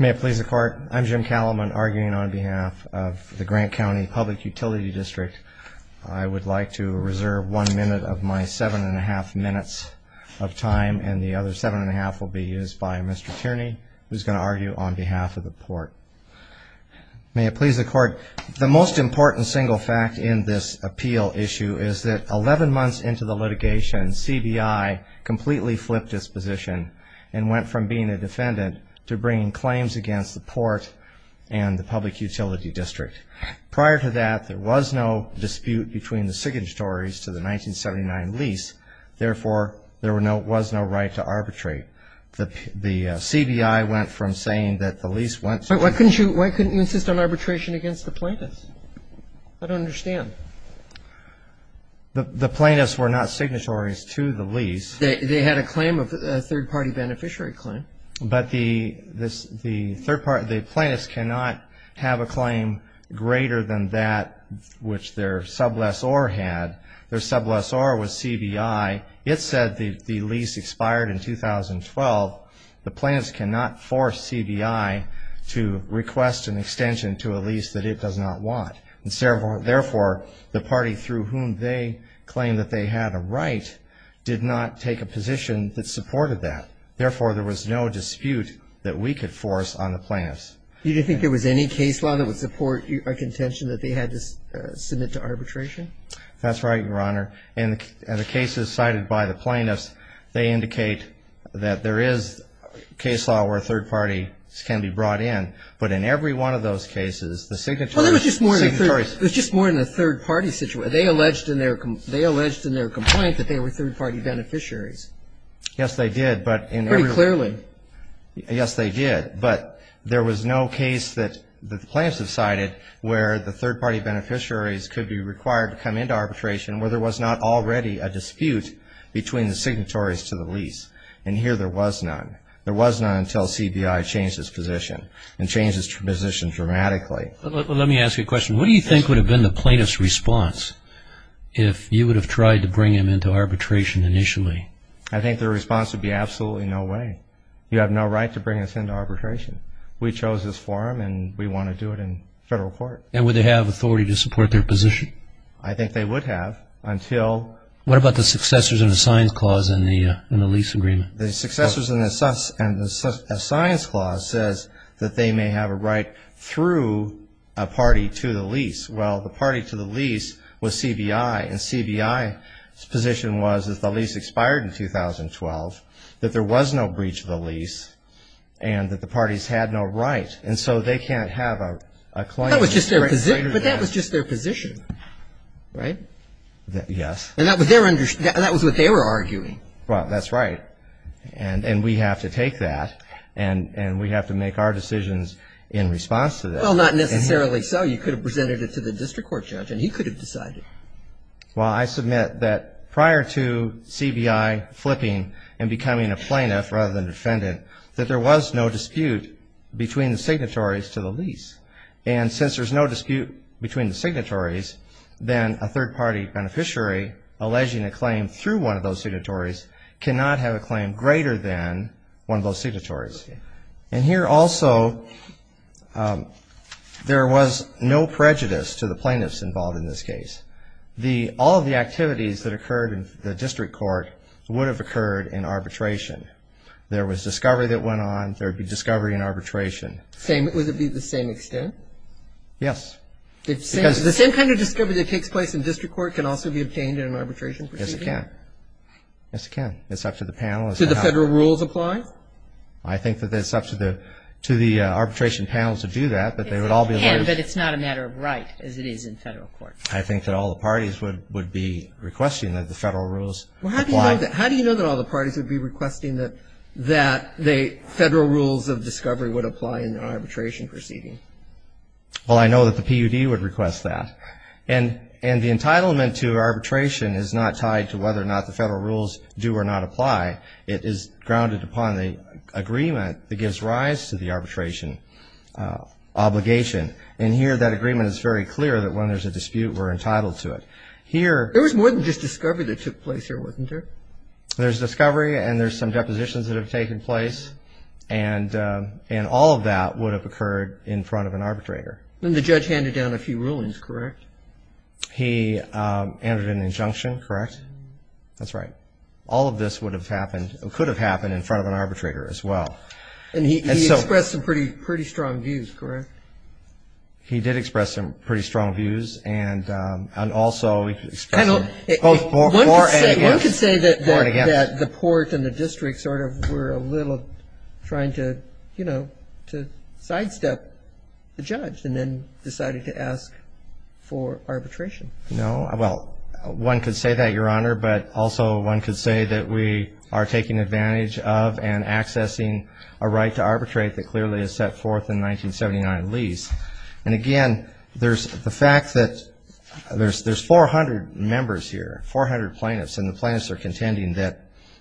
May it please the court, I'm Jim Calamon, arguing on behalf of the Grant County Public Utility District. I would like to reserve one minute of my seven and a half minutes of time, and the other seven and a half will be used by Mr. Tierney, who's going to argue on behalf of the court. May it please the court, the most important single fact in this appeal issue is that 11 months into the litigation, CBI completely flipped its position and went from being a defendant to bringing claims against the port and the public utility district. Prior to that, there was no dispute between the signatories to the 1979 lease. Therefore, there was no right to arbitrate. The CBI went from saying that the lease went to the plaintiff. Why couldn't you insist on arbitration against the plaintiffs? I don't understand. The plaintiffs were not signatories to the lease. They had a claim, a third-party beneficiary claim. But the plaintiffs cannot have a claim greater than that which their sublessor had. Their sublessor was CBI. It said the lease expired in 2012. The plaintiffs cannot force CBI to request an extension to a lease that it does not want. Therefore, the party through whom they claimed that they had a right did not take a position that supported that. Therefore, there was no dispute that we could force on the plaintiffs. You didn't think there was any case law that would support a contention that they had to submit to arbitration? That's right, Your Honor. In the cases cited by the plaintiffs, they indicate that there is case law where third parties can be brought in. But in every one of those cases, the signatories Well, it was just more than a third-party situation. They alleged in their complaint that they were third-party beneficiaries. Yes, they did. Pretty clearly. Yes, they did. But there was no case that the plaintiffs have cited where the third-party beneficiaries could be required to come into arbitration where there was not already a dispute between the signatories to the lease. And here there was none. There was none until CBI changed its position. It changed its position dramatically. Let me ask you a question. What do you think would have been the plaintiff's response if you would have tried to bring him into arbitration initially? I think their response would be absolutely no way. You have no right to bring us into arbitration. We chose this forum, and we want to do it in federal court. And would they have authority to support their position? I think they would have until What about the successors in the science clause in the lease agreement? The successors in the science clause says that they may have a right through a party to the lease. Well, the party to the lease was CBI. And CBI's position was that the lease expired in 2012, that there was no breach of the lease, and that the parties had no right. And so they can't have a claim. But that was just their position, right? Yes. And that was what they were arguing. Well, that's right. And we have to take that, and we have to make our decisions in response to that. Well, not necessarily so. You could have presented it to the district court judge, and he could have decided. Well, I submit that prior to CBI flipping and becoming a plaintiff rather than defendant, that there was no dispute between the signatories to the lease. And since there's no dispute between the signatories, then a third-party beneficiary alleging a claim through one of those signatories cannot have a claim greater than one of those signatories. And here also, there was no prejudice to the plaintiffs involved in this case. All of the activities that occurred in the district court would have occurred in arbitration. There was discovery that went on. There would be discovery in arbitration. Would it be the same extent? Yes. Because the same kind of discovery that takes place in district court can also be obtained in an arbitration proceeding? Yes, it can. Yes, it can. It's up to the panel. Do the federal rules apply? I think that it's up to the arbitration panels to do that, but they would all be able to. But it's not a matter of right, as it is in federal court. I think that all the parties would be requesting that the federal rules apply. Well, how do you know that all the parties would be requesting that the federal rules of discovery would apply in an arbitration proceeding? Well, I know that the PUD would request that. And the entitlement to arbitration is not tied to whether or not the federal rules do or not apply. It is grounded upon the agreement that gives rise to the arbitration obligation. And here, that agreement is very clear that when there's a dispute, we're entitled to it. Here ---- There was more than just discovery that took place here, wasn't there? There's discovery and there's some depositions that have taken place. And all of that would have occurred in front of an arbitrator. And the judge handed down a few rulings, correct? He entered an injunction, correct? That's right. All of this would have happened or could have happened in front of an arbitrator as well. And he expressed some pretty strong views, correct? He did express some pretty strong views and also expressed both for and against. I would say that the court and the district sort of were a little trying to, you know, to sidestep the judge and then decided to ask for arbitration. No. Well, one could say that, Your Honor, but also one could say that we are taking advantage of and accessing a right to arbitrate that clearly is set forth in 1979 lease. And, again, there's the fact that there's 400 members here, 400 plaintiffs, and the plaintiffs are contending that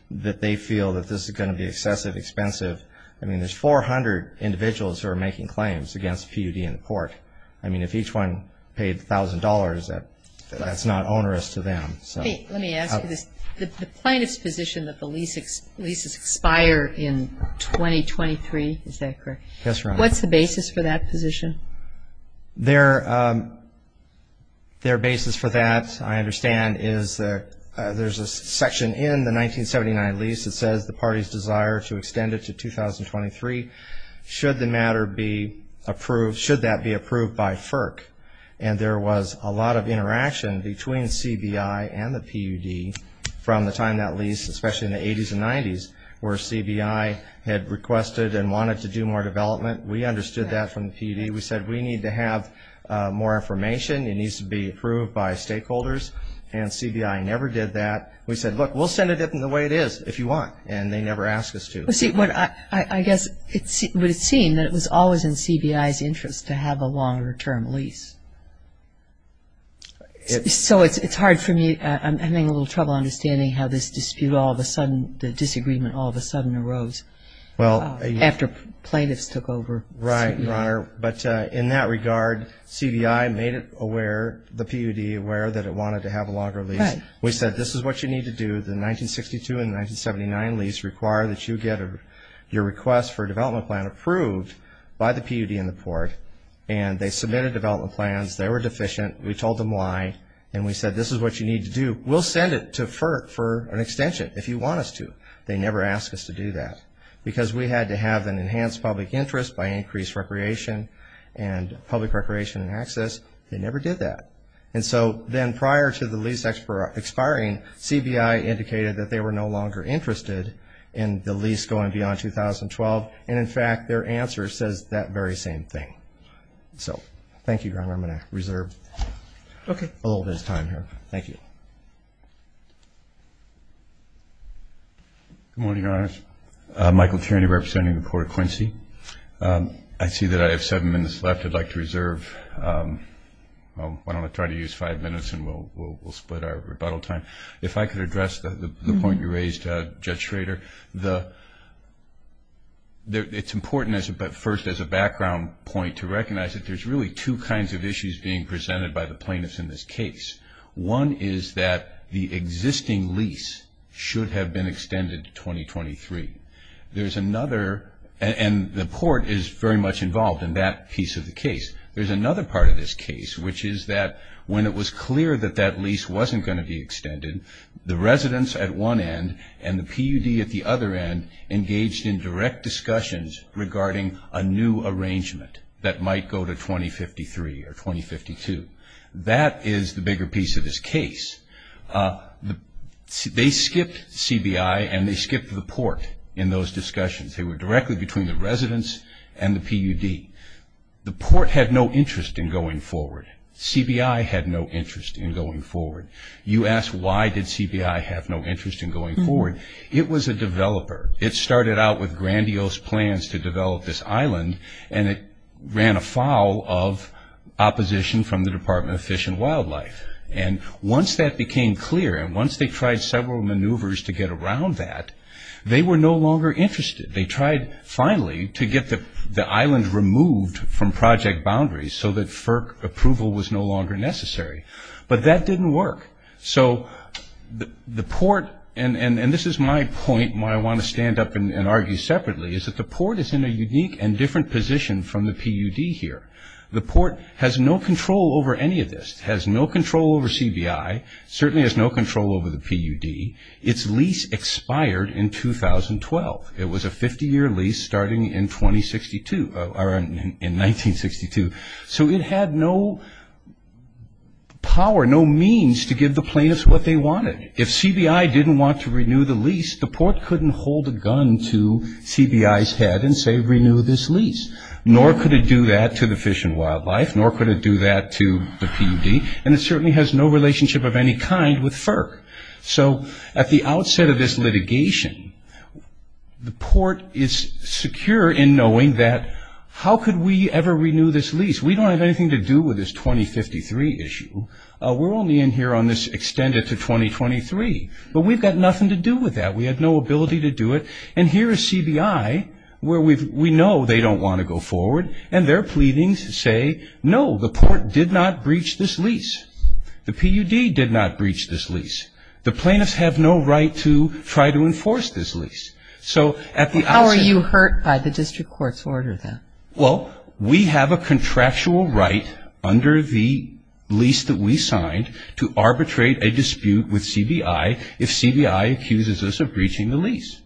they feel that this is going to be excessive, expensive. I mean, there's 400 individuals who are making claims against PUD and the court. I mean, if each one paid $1,000, that's not onerous to them. Let me ask you this. The plaintiff's position that the leases expire in 2023, is that correct? Yes, Your Honor. What's the basis for that position? Their basis for that, I understand, is there's a section in the 1979 lease that says the party's desire to extend it to 2023 should the matter be approved, should that be approved by FERC. And there was a lot of interaction between CBI and the PUD from the time that lease, especially in the 80s and 90s, where CBI had requested and wanted to do more development. We understood that from the PUD. We said we need to have more information. It needs to be approved by stakeholders. And CBI never did that. We said, look, we'll send it in the way it is if you want. And they never asked us to. Well, see, I guess it would seem that it was always in CBI's interest to have a longer-term lease. So it's hard for me. I'm having a little trouble understanding how this dispute all of a sudden, the disagreement all of a sudden arose after plaintiffs took over. Right, Your Honor. But in that regard, CBI made it aware, the PUD aware, that it wanted to have a longer lease. We said this is what you need to do. The 1962 and 1979 lease require that you get your request for a development plan approved by the PUD and the Port. And they submitted development plans. They were deficient. We told them why. And we said this is what you need to do. We'll send it to FERC for an extension if you want us to. They never asked us to do that. Because we had to have an enhanced public interest by increased recreation and public recreation and access. They never did that. And so then prior to the lease expiring, CBI indicated that they were no longer interested in the lease going beyond 2012. And, in fact, their answer says that very same thing. So thank you, Your Honor. I'm going to reserve a little bit of time here. Thank you. Good morning, Your Honors. Michael Tierney representing the Court of Quincy. I see that I have seven minutes left. I'd like to reserve why don't I try to use five minutes and we'll split our rebuttal time. If I could address the point you raised, Judge Schrader, it's important first as a background point to recognize that there's really two kinds of issues being presented by the plaintiffs in this case. One is that the existing lease should have been extended to 2023. There's another, and the court is very much involved in that piece of the case, there's another part of this case which is that when it was clear that that lease wasn't going to be extended, the residents at one end and the PUD at the other end engaged in direct discussions regarding a new arrangement that might go to 2053 or 2052. That is the bigger piece of this case. They skipped CBI and they skipped the port in those discussions. They were directly between the residents and the PUD. The port had no interest in going forward. CBI had no interest in going forward. You asked why did CBI have no interest in going forward. It was a developer. It started out with grandiose plans to develop this island, and it ran afoul of opposition from the Department of Fish and Wildlife. Once that became clear and once they tried several maneuvers to get around that, they were no longer interested. They tried finally to get the island removed from project boundaries so that FERC approval was no longer necessary, but that didn't work. The port, and this is my point and why I want to stand up and argue separately, is that the port is in a unique and different position from the PUD here. The port has no control over any of this. It has no control over CBI. It certainly has no control over the PUD. Its lease expired in 2012. It was a 50-year lease starting in 1962. So it had no power, no means to give the plaintiffs what they wanted. If CBI didn't want to renew the lease, the port couldn't hold a gun to CBI's head and say renew this lease, nor could it do that to the Fish and Wildlife, nor could it do that to the PUD, and it certainly has no relationship of any kind with FERC. So at the outset of this litigation, the port is secure in knowing that how could we ever renew this lease? We don't have anything to do with this 2053 issue. We're only in here on this extended to 2023. But we've got nothing to do with that. We have no ability to do it. And here is CBI where we know they don't want to go forward, and their pleadings say no, the port did not breach this lease. The PUD did not breach this lease. The plaintiffs have no right to try to enforce this lease. So at the outset... How are you hurt by the district court's order then? Well, we have a contractual right under the lease that we signed to arbitrate a dispute with CBI if CBI accuses us of breaching the lease.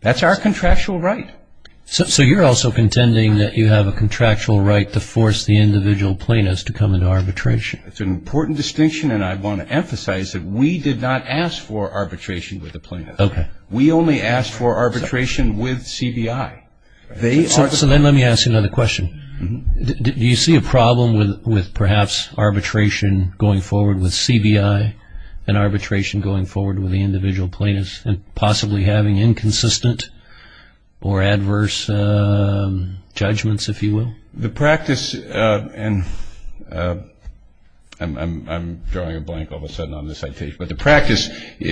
That's our contractual right. So you're also contending that you have a contractual right to force the individual plaintiffs to come into arbitration. It's an important distinction, and I want to emphasize that we did not ask for arbitration with the plaintiffs. Okay. We only asked for arbitration with CBI. So then let me ask you another question. Do you see a problem with perhaps arbitration going forward with CBI and arbitration going forward with the individual plaintiffs and possibly having inconsistent or adverse judgments, if you will? The practice, and I'm drawing a blank all of a sudden on this citation, but the practice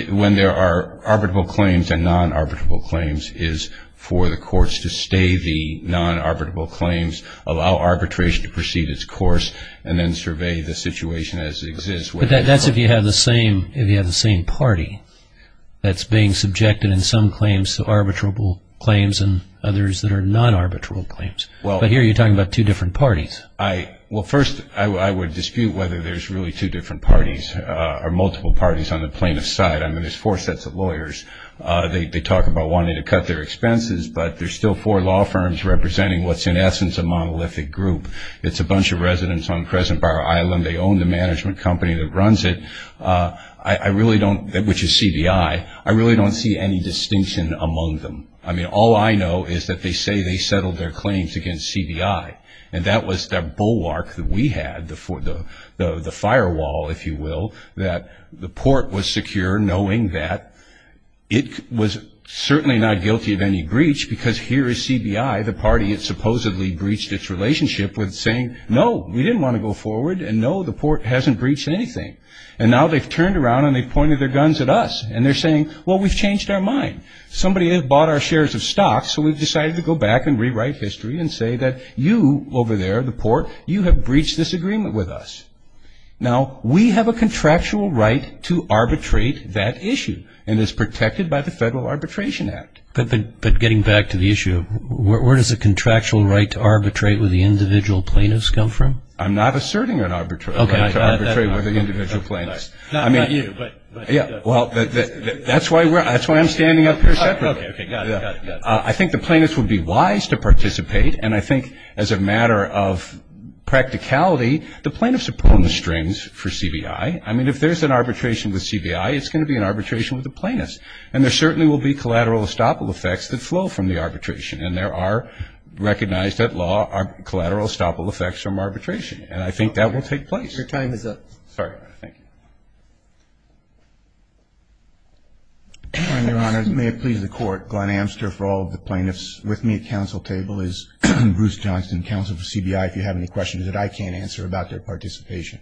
when there are arbitrable claims and non-arbitrable claims is for the courts to stay the non-arbitrable claims, allow arbitration to proceed its course, and then survey the situation as it exists. But that's if you have the same party that's being subjected in some claims to arbitrable claims and others that are non-arbitrable claims. But here you're talking about two different parties. Well, first, I would dispute whether there's really two different parties or multiple parties on the plaintiff's side. I mean, there's four sets of lawyers. They talk about wanting to cut their expenses, but there's still four law firms representing what's in essence a monolithic group. It's a bunch of residents on Crescent Bar Island. They own the management company that runs it, which is CBI. I really don't see any distinction among them. I mean, all I know is that they say they settled their claims against CBI, and that was the bulwark that we had, the firewall, if you will, that the port was secure knowing that. It was certainly not guilty of any breach because here is CBI, the party that supposedly breached its relationship with saying, no, we didn't want to go forward, and no, the port hasn't breached anything. And now they've turned around and they've pointed their guns at us, and they're saying, well, we've changed our mind. Somebody has bought our shares of stocks, so we've decided to go back and rewrite history and say that you over there, the port, you have breached this agreement with us. Now, we have a contractual right to arbitrate that issue, and it's protected by the Federal Arbitration Act. But getting back to the issue, where does the contractual right to arbitrate with the individual plaintiffs come from? I'm not asserting an arbitrary right to arbitrate with the individual plaintiffs. Not you. That's why I'm standing up here separately. I think the plaintiffs would be wise to participate, and I think as a matter of practicality, the plaintiffs are pulling the strings for CBI. I mean, if there's an arbitration with CBI, it's going to be an arbitration with the plaintiffs, and there certainly will be collateral estoppel effects that flow from the arbitration, and there are recognized at law collateral estoppel effects from arbitration, and I think that will take place. Your time is up. Sorry. Thank you. Your Honor, may it please the Court, Glenn Amster for all of the plaintiffs with me at council table is Bruce Johnston, counsel for CBI. If you have any questions that I can't answer about their participation.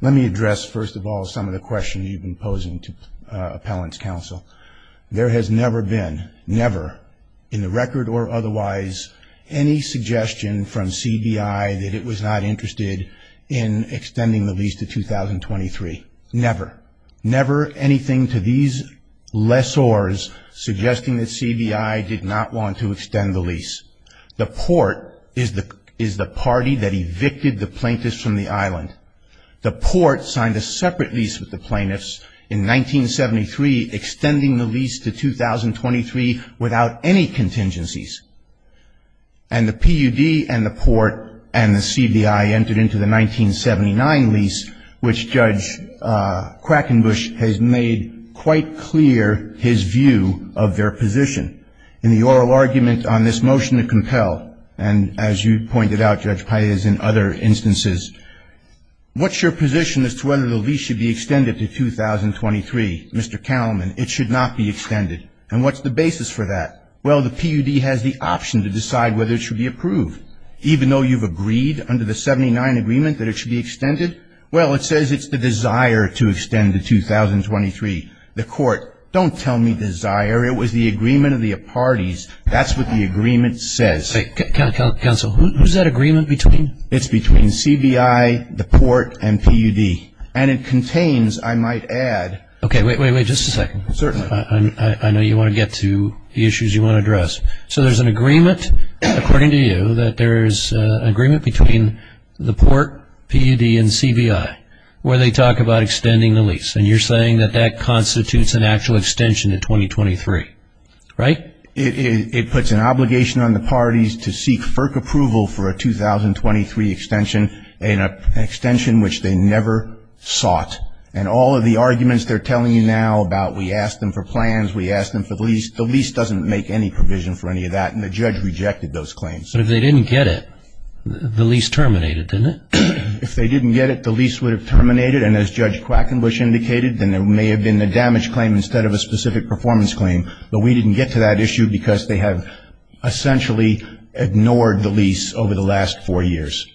Let me address, first of all, some of the questions you've been posing to appellants' counsel. There has never been, never, in the record or otherwise, any suggestion from CBI that it was not interested in extending the lease to 2023. Never. Never anything to these lessors suggesting that CBI did not want to extend the lease. The Port is the party that evicted the plaintiffs from the island. The Port signed a separate lease with the plaintiffs in 1973, extending the lease to 2023 without any contingencies. And the PUD and the Port and the CBI entered into the 1979 lease, which Judge Krakenbusch has made quite clear his view of their position. In the oral argument on this motion to compel, and as you pointed out, Judge Paez, in other instances, what's your position as to whether the lease should be extended to 2023? Mr. Kalman, it should not be extended. And what's the basis for that? Well, the PUD has the option to decide whether it should be approved. Even though you've agreed under the 79 agreement that it should be extended, well, it says it's the desire to extend to 2023. The Court, don't tell me desire. It was the agreement of the parties. That's what the agreement says. Counsel, who's that agreement between? It's between CBI, the Port, and PUD. And it contains, I might add. Okay, wait, wait, wait, just a second. Certainly. I know you want to get to the issues you want to address. So there's an agreement, according to you, that there's an agreement between the Port, PUD, and CBI, where they talk about extending the lease. And you're saying that that constitutes an actual extension to 2023, right? It puts an obligation on the parties to seek FERC approval for a 2023 extension, an extension which they never sought. And all of the arguments they're telling you now about we asked them for plans, we asked them for the lease, the lease doesn't make any provision for any of that, and the judge rejected those claims. But if they didn't get it, the lease terminated, didn't it? If they didn't get it, the lease would have terminated, and as Judge Quackenbush indicated, then there may have been a damage claim instead of a specific performance claim. But we didn't get to that issue because they have essentially ignored the lease over the last four years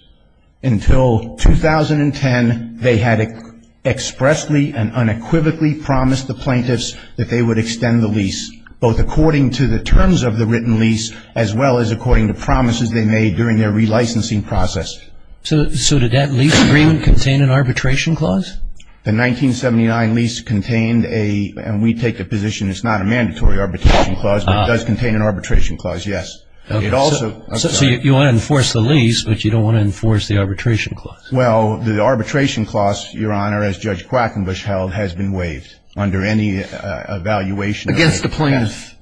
until 2010. They had expressly and unequivocally promised the plaintiffs that they would extend the lease, both according to the terms of the written lease, as well as according to promises they made during their relicensing process. So did that lease agreement contain an arbitration clause? The 1979 lease contained a, and we take the position it's not a mandatory arbitration clause, but it does contain an arbitration clause, yes. So you want to enforce the lease, but you don't want to enforce the arbitration clause. Well, the arbitration clause, Your Honor, as Judge Quackenbush held, has been waived under any evaluation. Against the plaintiffs.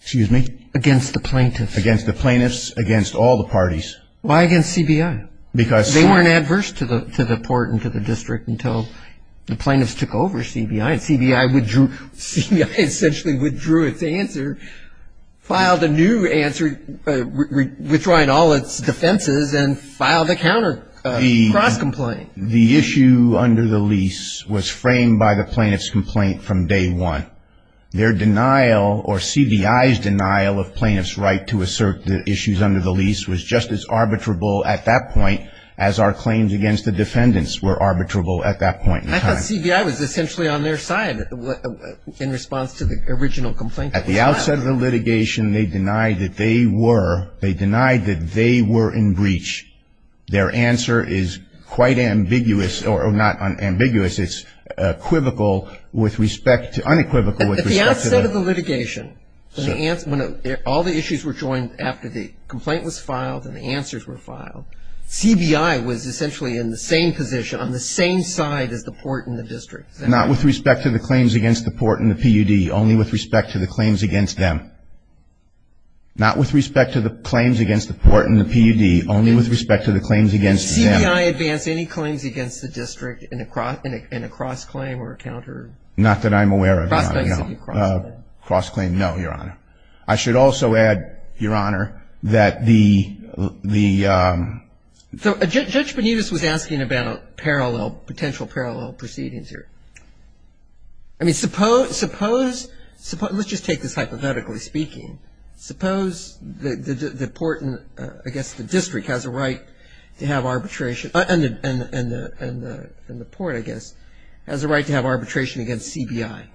Excuse me? Against the plaintiffs. Against the plaintiffs, against all the parties. Why against CBI? They weren't adverse to the court and to the district until the plaintiffs took over CBI, CBI essentially withdrew its answer, filed a new answer, withdrawing all its defenses and filed a counter cross-complaint. The issue under the lease was framed by the plaintiff's complaint from day one. Their denial or CBI's denial of plaintiffs' right to assert the issues under the lease was just as arbitrable at that point as our claims against the defendants were arbitrable at that point in time. I thought CBI was essentially on their side in response to the original complaint. At the outset of the litigation, they denied that they were, they denied that they were in breach. Their answer is quite ambiguous, or not ambiguous, it's equivocal with respect to, unequivocal with respect to the. At the outset of the litigation, when all the issues were joined after the complaint was filed and the answers were filed, CBI was essentially in the same position, on the same side as the court and the district. Not with respect to the claims against the court and the PUD? Only with respect to the claims against them? Not with respect to the claims against the court and the PUD? Only with respect to the claims against them? Did CBI advance any claims against the district in a cross-claim or a counter? Not that I'm aware of, Your Honor. Cross-claim. Cross-claim, no, Your Honor. I should also add, Your Honor, that the ‑‑ Judge Benitez was asking about parallel, potential parallel proceedings here. I mean, suppose, let's just take this hypothetically speaking. Suppose the court and I guess the district has a right to have arbitration, and the court, I guess, has a right to have arbitration against CBI.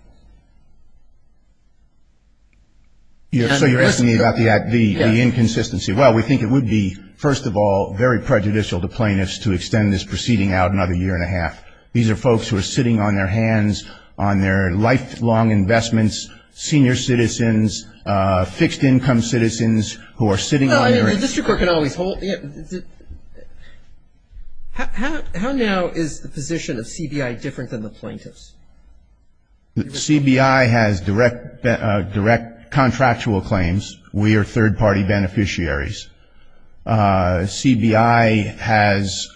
So you're asking me about the inconsistency. Well, we think it would be, first of all, very prejudicial to plaintiffs to extend this proceeding out another year and a half. These are folks who are sitting on their hands on their lifelong investments, The district court can always hold. How now is the position of CBI different than the plaintiffs? CBI has direct contractual claims. We are third-party beneficiaries. CBI has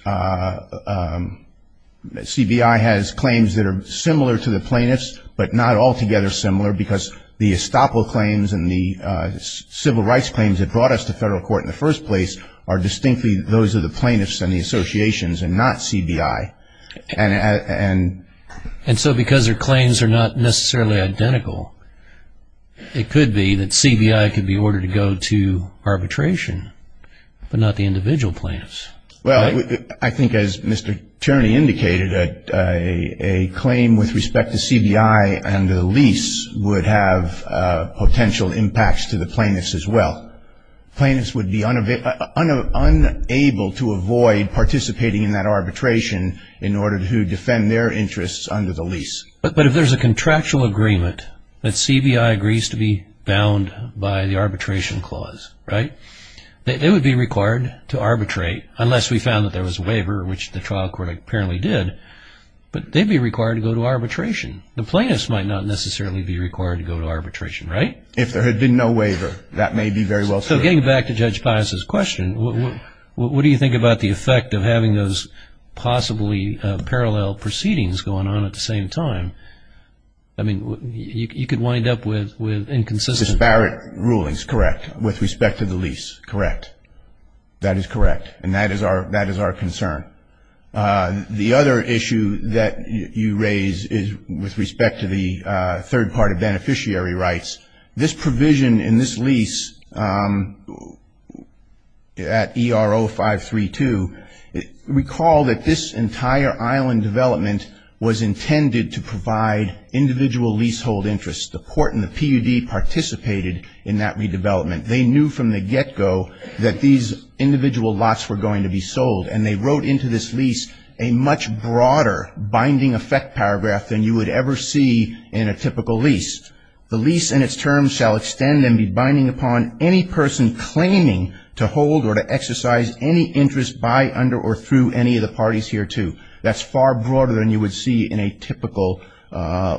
claims that are similar to the plaintiffs, but not altogether similar, because the estoppel claims and the civil rights claims that brought us to federal court in the first place are distinctly those of the plaintiffs and the associations and not CBI. And so because their claims are not necessarily identical, it could be that CBI could be ordered to go to arbitration, but not the individual plaintiffs. Well, I think as Mr. Tierney indicated, a claim with respect to CBI under the lease would have potential impacts to the plaintiffs as well. Plaintiffs would be unable to avoid participating in that arbitration in order to defend their interests under the lease. But if there's a contractual agreement that CBI agrees to be bound by the arbitration clause, right, they would be required to arbitrate unless we found that there was a waiver, which the trial court apparently did. But they'd be required to go to arbitration. The plaintiffs might not necessarily be required to go to arbitration, right? If there had been no waiver, that may be very well true. So getting back to Judge Pius's question, what do you think about the effect of having those possibly parallel proceedings going on at the same time? I mean, you could wind up with inconsistency. With disparate rulings, correct, with respect to the lease, correct. That is correct. And that is our concern. The other issue that you raise is with respect to the third-party beneficiary rights. This provision in this lease at ERO 532, recall that this entire island development was intended to provide individual leasehold interests. The port and the PUD participated in that redevelopment. They knew from the get-go that these individual lots were going to be sold, and they wrote into this lease a much broader binding effect paragraph than you would ever see in a typical lease. The lease in its term shall extend and be binding upon any person claiming to hold or to exercise any interest by, under, or through any of the parties hereto. That's far broader than you would see in a typical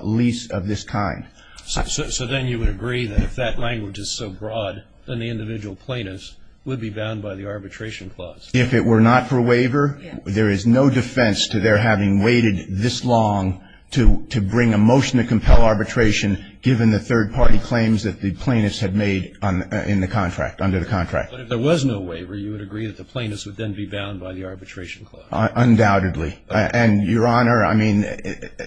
lease of this kind. So then you would agree that if that language is so broad, then the individual plaintiffs would be bound by the arbitration clause? If it were not for waiver, there is no defense to their having waited this long to bring a motion to compel arbitration given the third-party claims that the plaintiffs had made in the contract, under the contract. But if there was no waiver, you would agree that the plaintiffs would then be bound by the arbitration clause? Undoubtedly. And, Your Honor, I mean,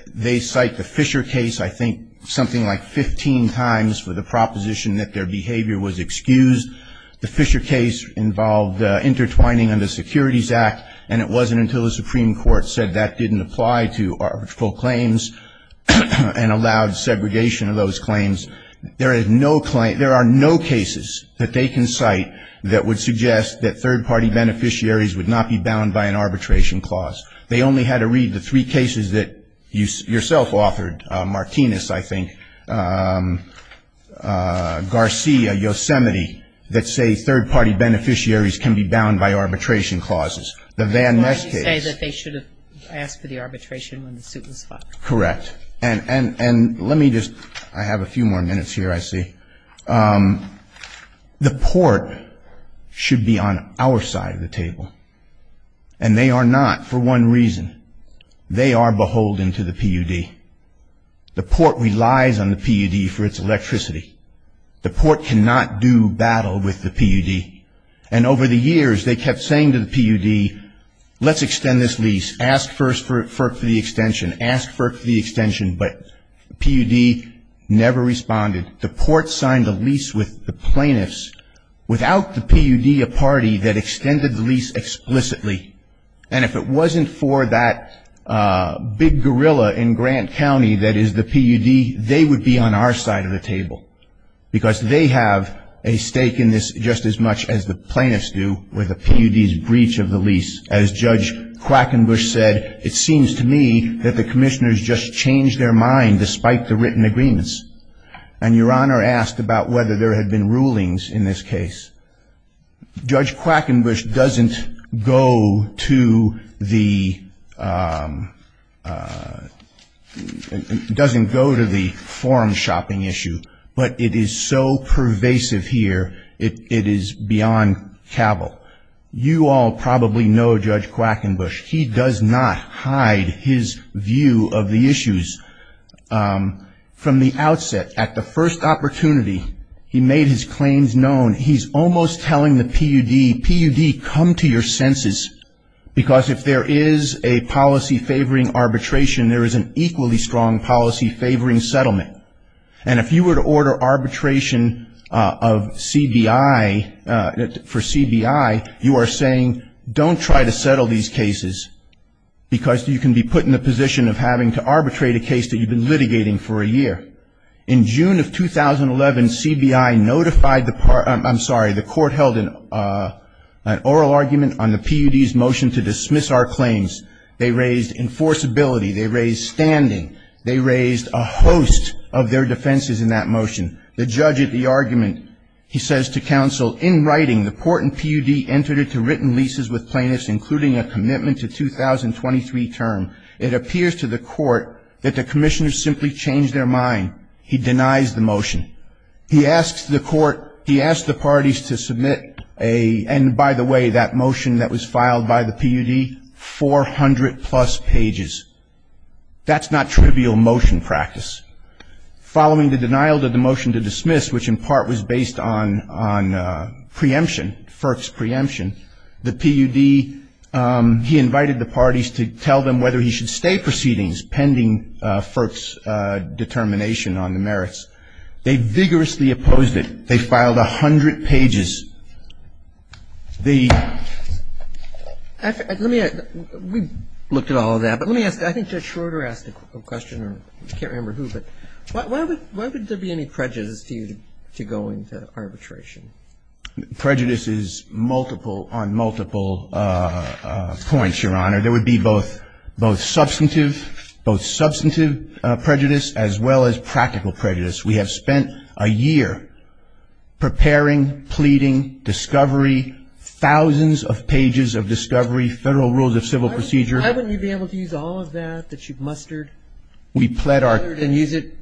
they cite the Fisher case, I think, something like 15 times for the proposition that their behavior was excused. The Fisher case involved intertwining under the Securities Act, and it wasn't until the Supreme Court said that didn't apply to arbitral claims and allowed segregation of those claims. There are no cases that they can cite that would suggest that third-party beneficiaries would not be bound by an arbitration clause. They only had to read the three cases that you yourself authored, Martinez, I think, Garcia, Yosemite, that say third-party beneficiaries can be bound by arbitration clauses. The Van Ness case. You say that they should have asked for the arbitration when the suit was filed. Correct. And let me just, I have a few more minutes here, I see. The port should be on our side of the table, and they are not for one reason. They are beholden to the PUD. The port relies on the PUD for its electricity. The port cannot do battle with the PUD. And over the years, they kept saying to the PUD, let's extend this lease. Ask first for the extension. Ask first for the extension. But the PUD never responded. The port signed a lease with the plaintiffs without the PUD a party that extended the lease explicitly. And if it wasn't for that big gorilla in Grant County that is the PUD, they would be on our side of the table, because they have a stake in this just as much as the plaintiffs do with the PUD's breach of the lease. As Judge Quackenbush said, it seems to me that the commissioners just changed their mind despite the written agreements. And Your Honor asked about whether there had been rulings in this case. Judge Quackenbush doesn't go to the forum shopping issue, but it is so pervasive here, it is beyond cavil. You all probably know Judge Quackenbush. He does not hide his view of the issues. From the outset, at the first opportunity, he made his claims known. He's almost telling the PUD, PUD, come to your senses, because if there is a policy favoring arbitration, there is an equally strong policy favoring settlement. And if you were to order arbitration of CBI, for CBI, you are saying don't try to settle these cases, because you can be put in the position of having to arbitrate a case that you've been litigating for a year. In June of 2011, CBI notified the part, I'm sorry, the court held an oral argument on the PUD's motion to dismiss our claims. They raised enforceability. They raised standing. They raised a host of their defenses in that motion. The judge at the argument, he says to counsel, in writing, the court and PUD entered into written leases with plaintiffs, including a commitment to 2023 term. It appears to the court that the commissioners simply changed their mind. He denies the motion. He asks the court, he asks the parties to submit a, and by the way, that motion that was filed by the PUD, 400 plus pages. That's not trivial motion practice. Following the denial of the motion to dismiss, which in part was based on preemption, FERC's preemption, the PUD, he invited the parties to tell them whether he should stay proceedings, pending FERC's determination on the merits. They vigorously opposed it. They filed 100 pages. The -- Let me, we've looked at all of that. But let me ask, I think Judge Schroeder asked a question, I can't remember who, but why would there be any prejudice to you to go into arbitration? Prejudice is multiple on multiple points, Your Honor. There would be both substantive, both substantive prejudice as well as practical prejudice. We have spent a year preparing, pleading, discovery, thousands of pages of discovery, Federal Rules of Civil Procedure. Why wouldn't you be able to use all of that that you've mustered and use it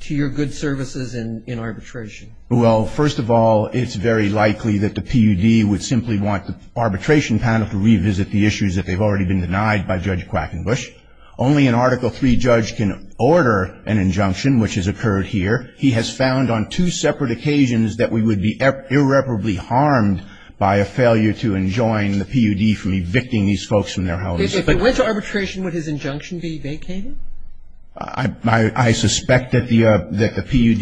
to your good services in arbitration? Well, first of all, it's very likely that the PUD would simply want the arbitration panel to revisit the issues that they've already been denied by Judge Quackenbush. Only an Article III judge can order an injunction, which has occurred here. He has found on two separate occasions that we would be irreparably harmed by a failure to enjoin the PUD from evicting these folks from their houses. If it went to arbitration, would his injunction be vacated? I suspect that the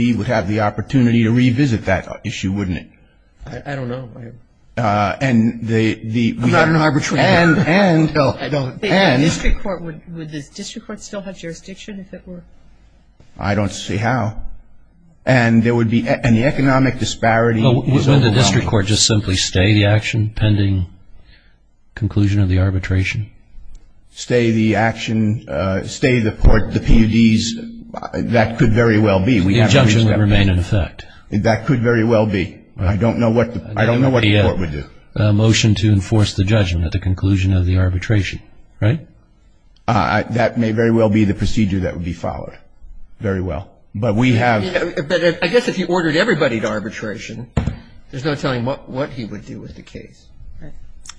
PUD would have the opportunity to revisit that issue, wouldn't it? I don't know. And the -- I'm not an arbitrator. And the district court, would the district court still have jurisdiction if it were? I don't see how. And there would be an economic disparity. Wouldn't the district court just simply stay the action pending conclusion of the arbitration? Stay the action, stay the PUDs, that could very well be. The injunction would remain in effect. That could very well be. I don't know what the court would do. I guess if you ordered everybody to arbitration, there's no telling what he would do with the case. Right.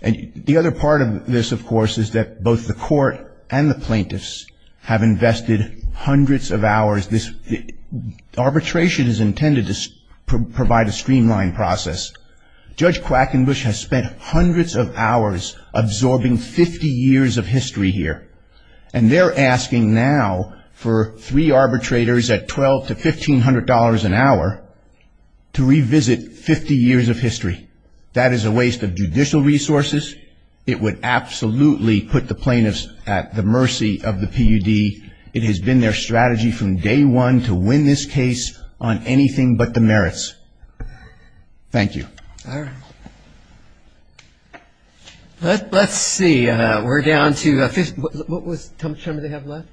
And the other part of this, of course, is that both the court and the plaintiffs have invested hundreds of hours. Arbitration is intended to provide a streamlined process. And they've spent hundreds of hours absorbing 50 years of history here. And they're asking now for three arbitrators at $1,200 to $1,500 an hour to revisit 50 years of history. That is a waste of judicial resources. It would absolutely put the plaintiffs at the mercy of the PUD. It has been their strategy from day one to win this case on anything but the merits. Thank you. All right. Let's see. We're down to 50. How much time do they have left?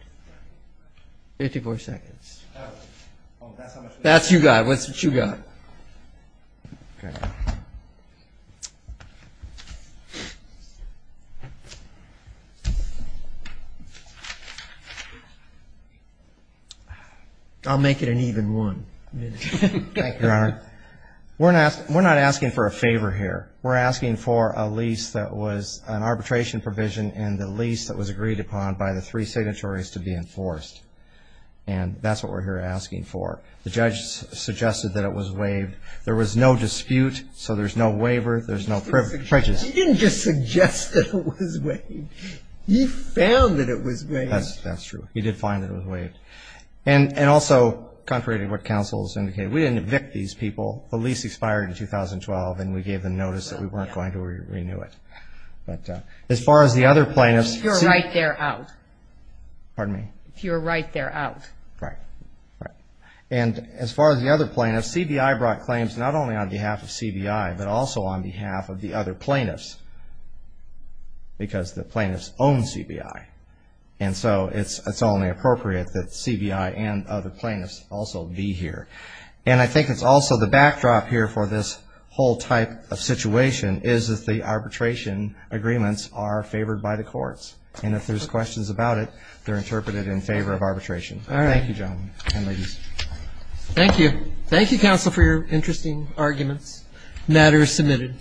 54 seconds. That's what you got. That's what you got. I'll make it an even one. Thank you, Your Honor. We're not asking for a favor here. We're asking for a lease that was an arbitration provision and the lease that was agreed upon by the three signatories to be enforced. And that's what we're here asking for. The judge suggested that it was waived. There was no dispute, so there's no waiver. There's no prejudice. He didn't just suggest that it was waived. He found that it was waived. That's true. He did find that it was waived. And also, contrary to what counsel has indicated, we didn't evict these people. The lease expired in 2012, and we gave them notice that we weren't going to renew it. But as far as the other plaintiffs. If you're right, they're out. Pardon me? If you're right, they're out. Right. Right. And as far as the other plaintiffs, CBI brought claims not only on behalf of CBI, but also on behalf of the other plaintiffs because the plaintiffs own CBI. And so it's only appropriate that CBI and other plaintiffs also be here. And I think it's also the backdrop here for this whole type of situation is that the arbitration agreements are favored by the courts. And if there's questions about it, they're interpreted in favor of arbitration. All right. Thank you, gentlemen and ladies. Thank you. Thank you, counsel, for your interesting arguments. Matter is submitted.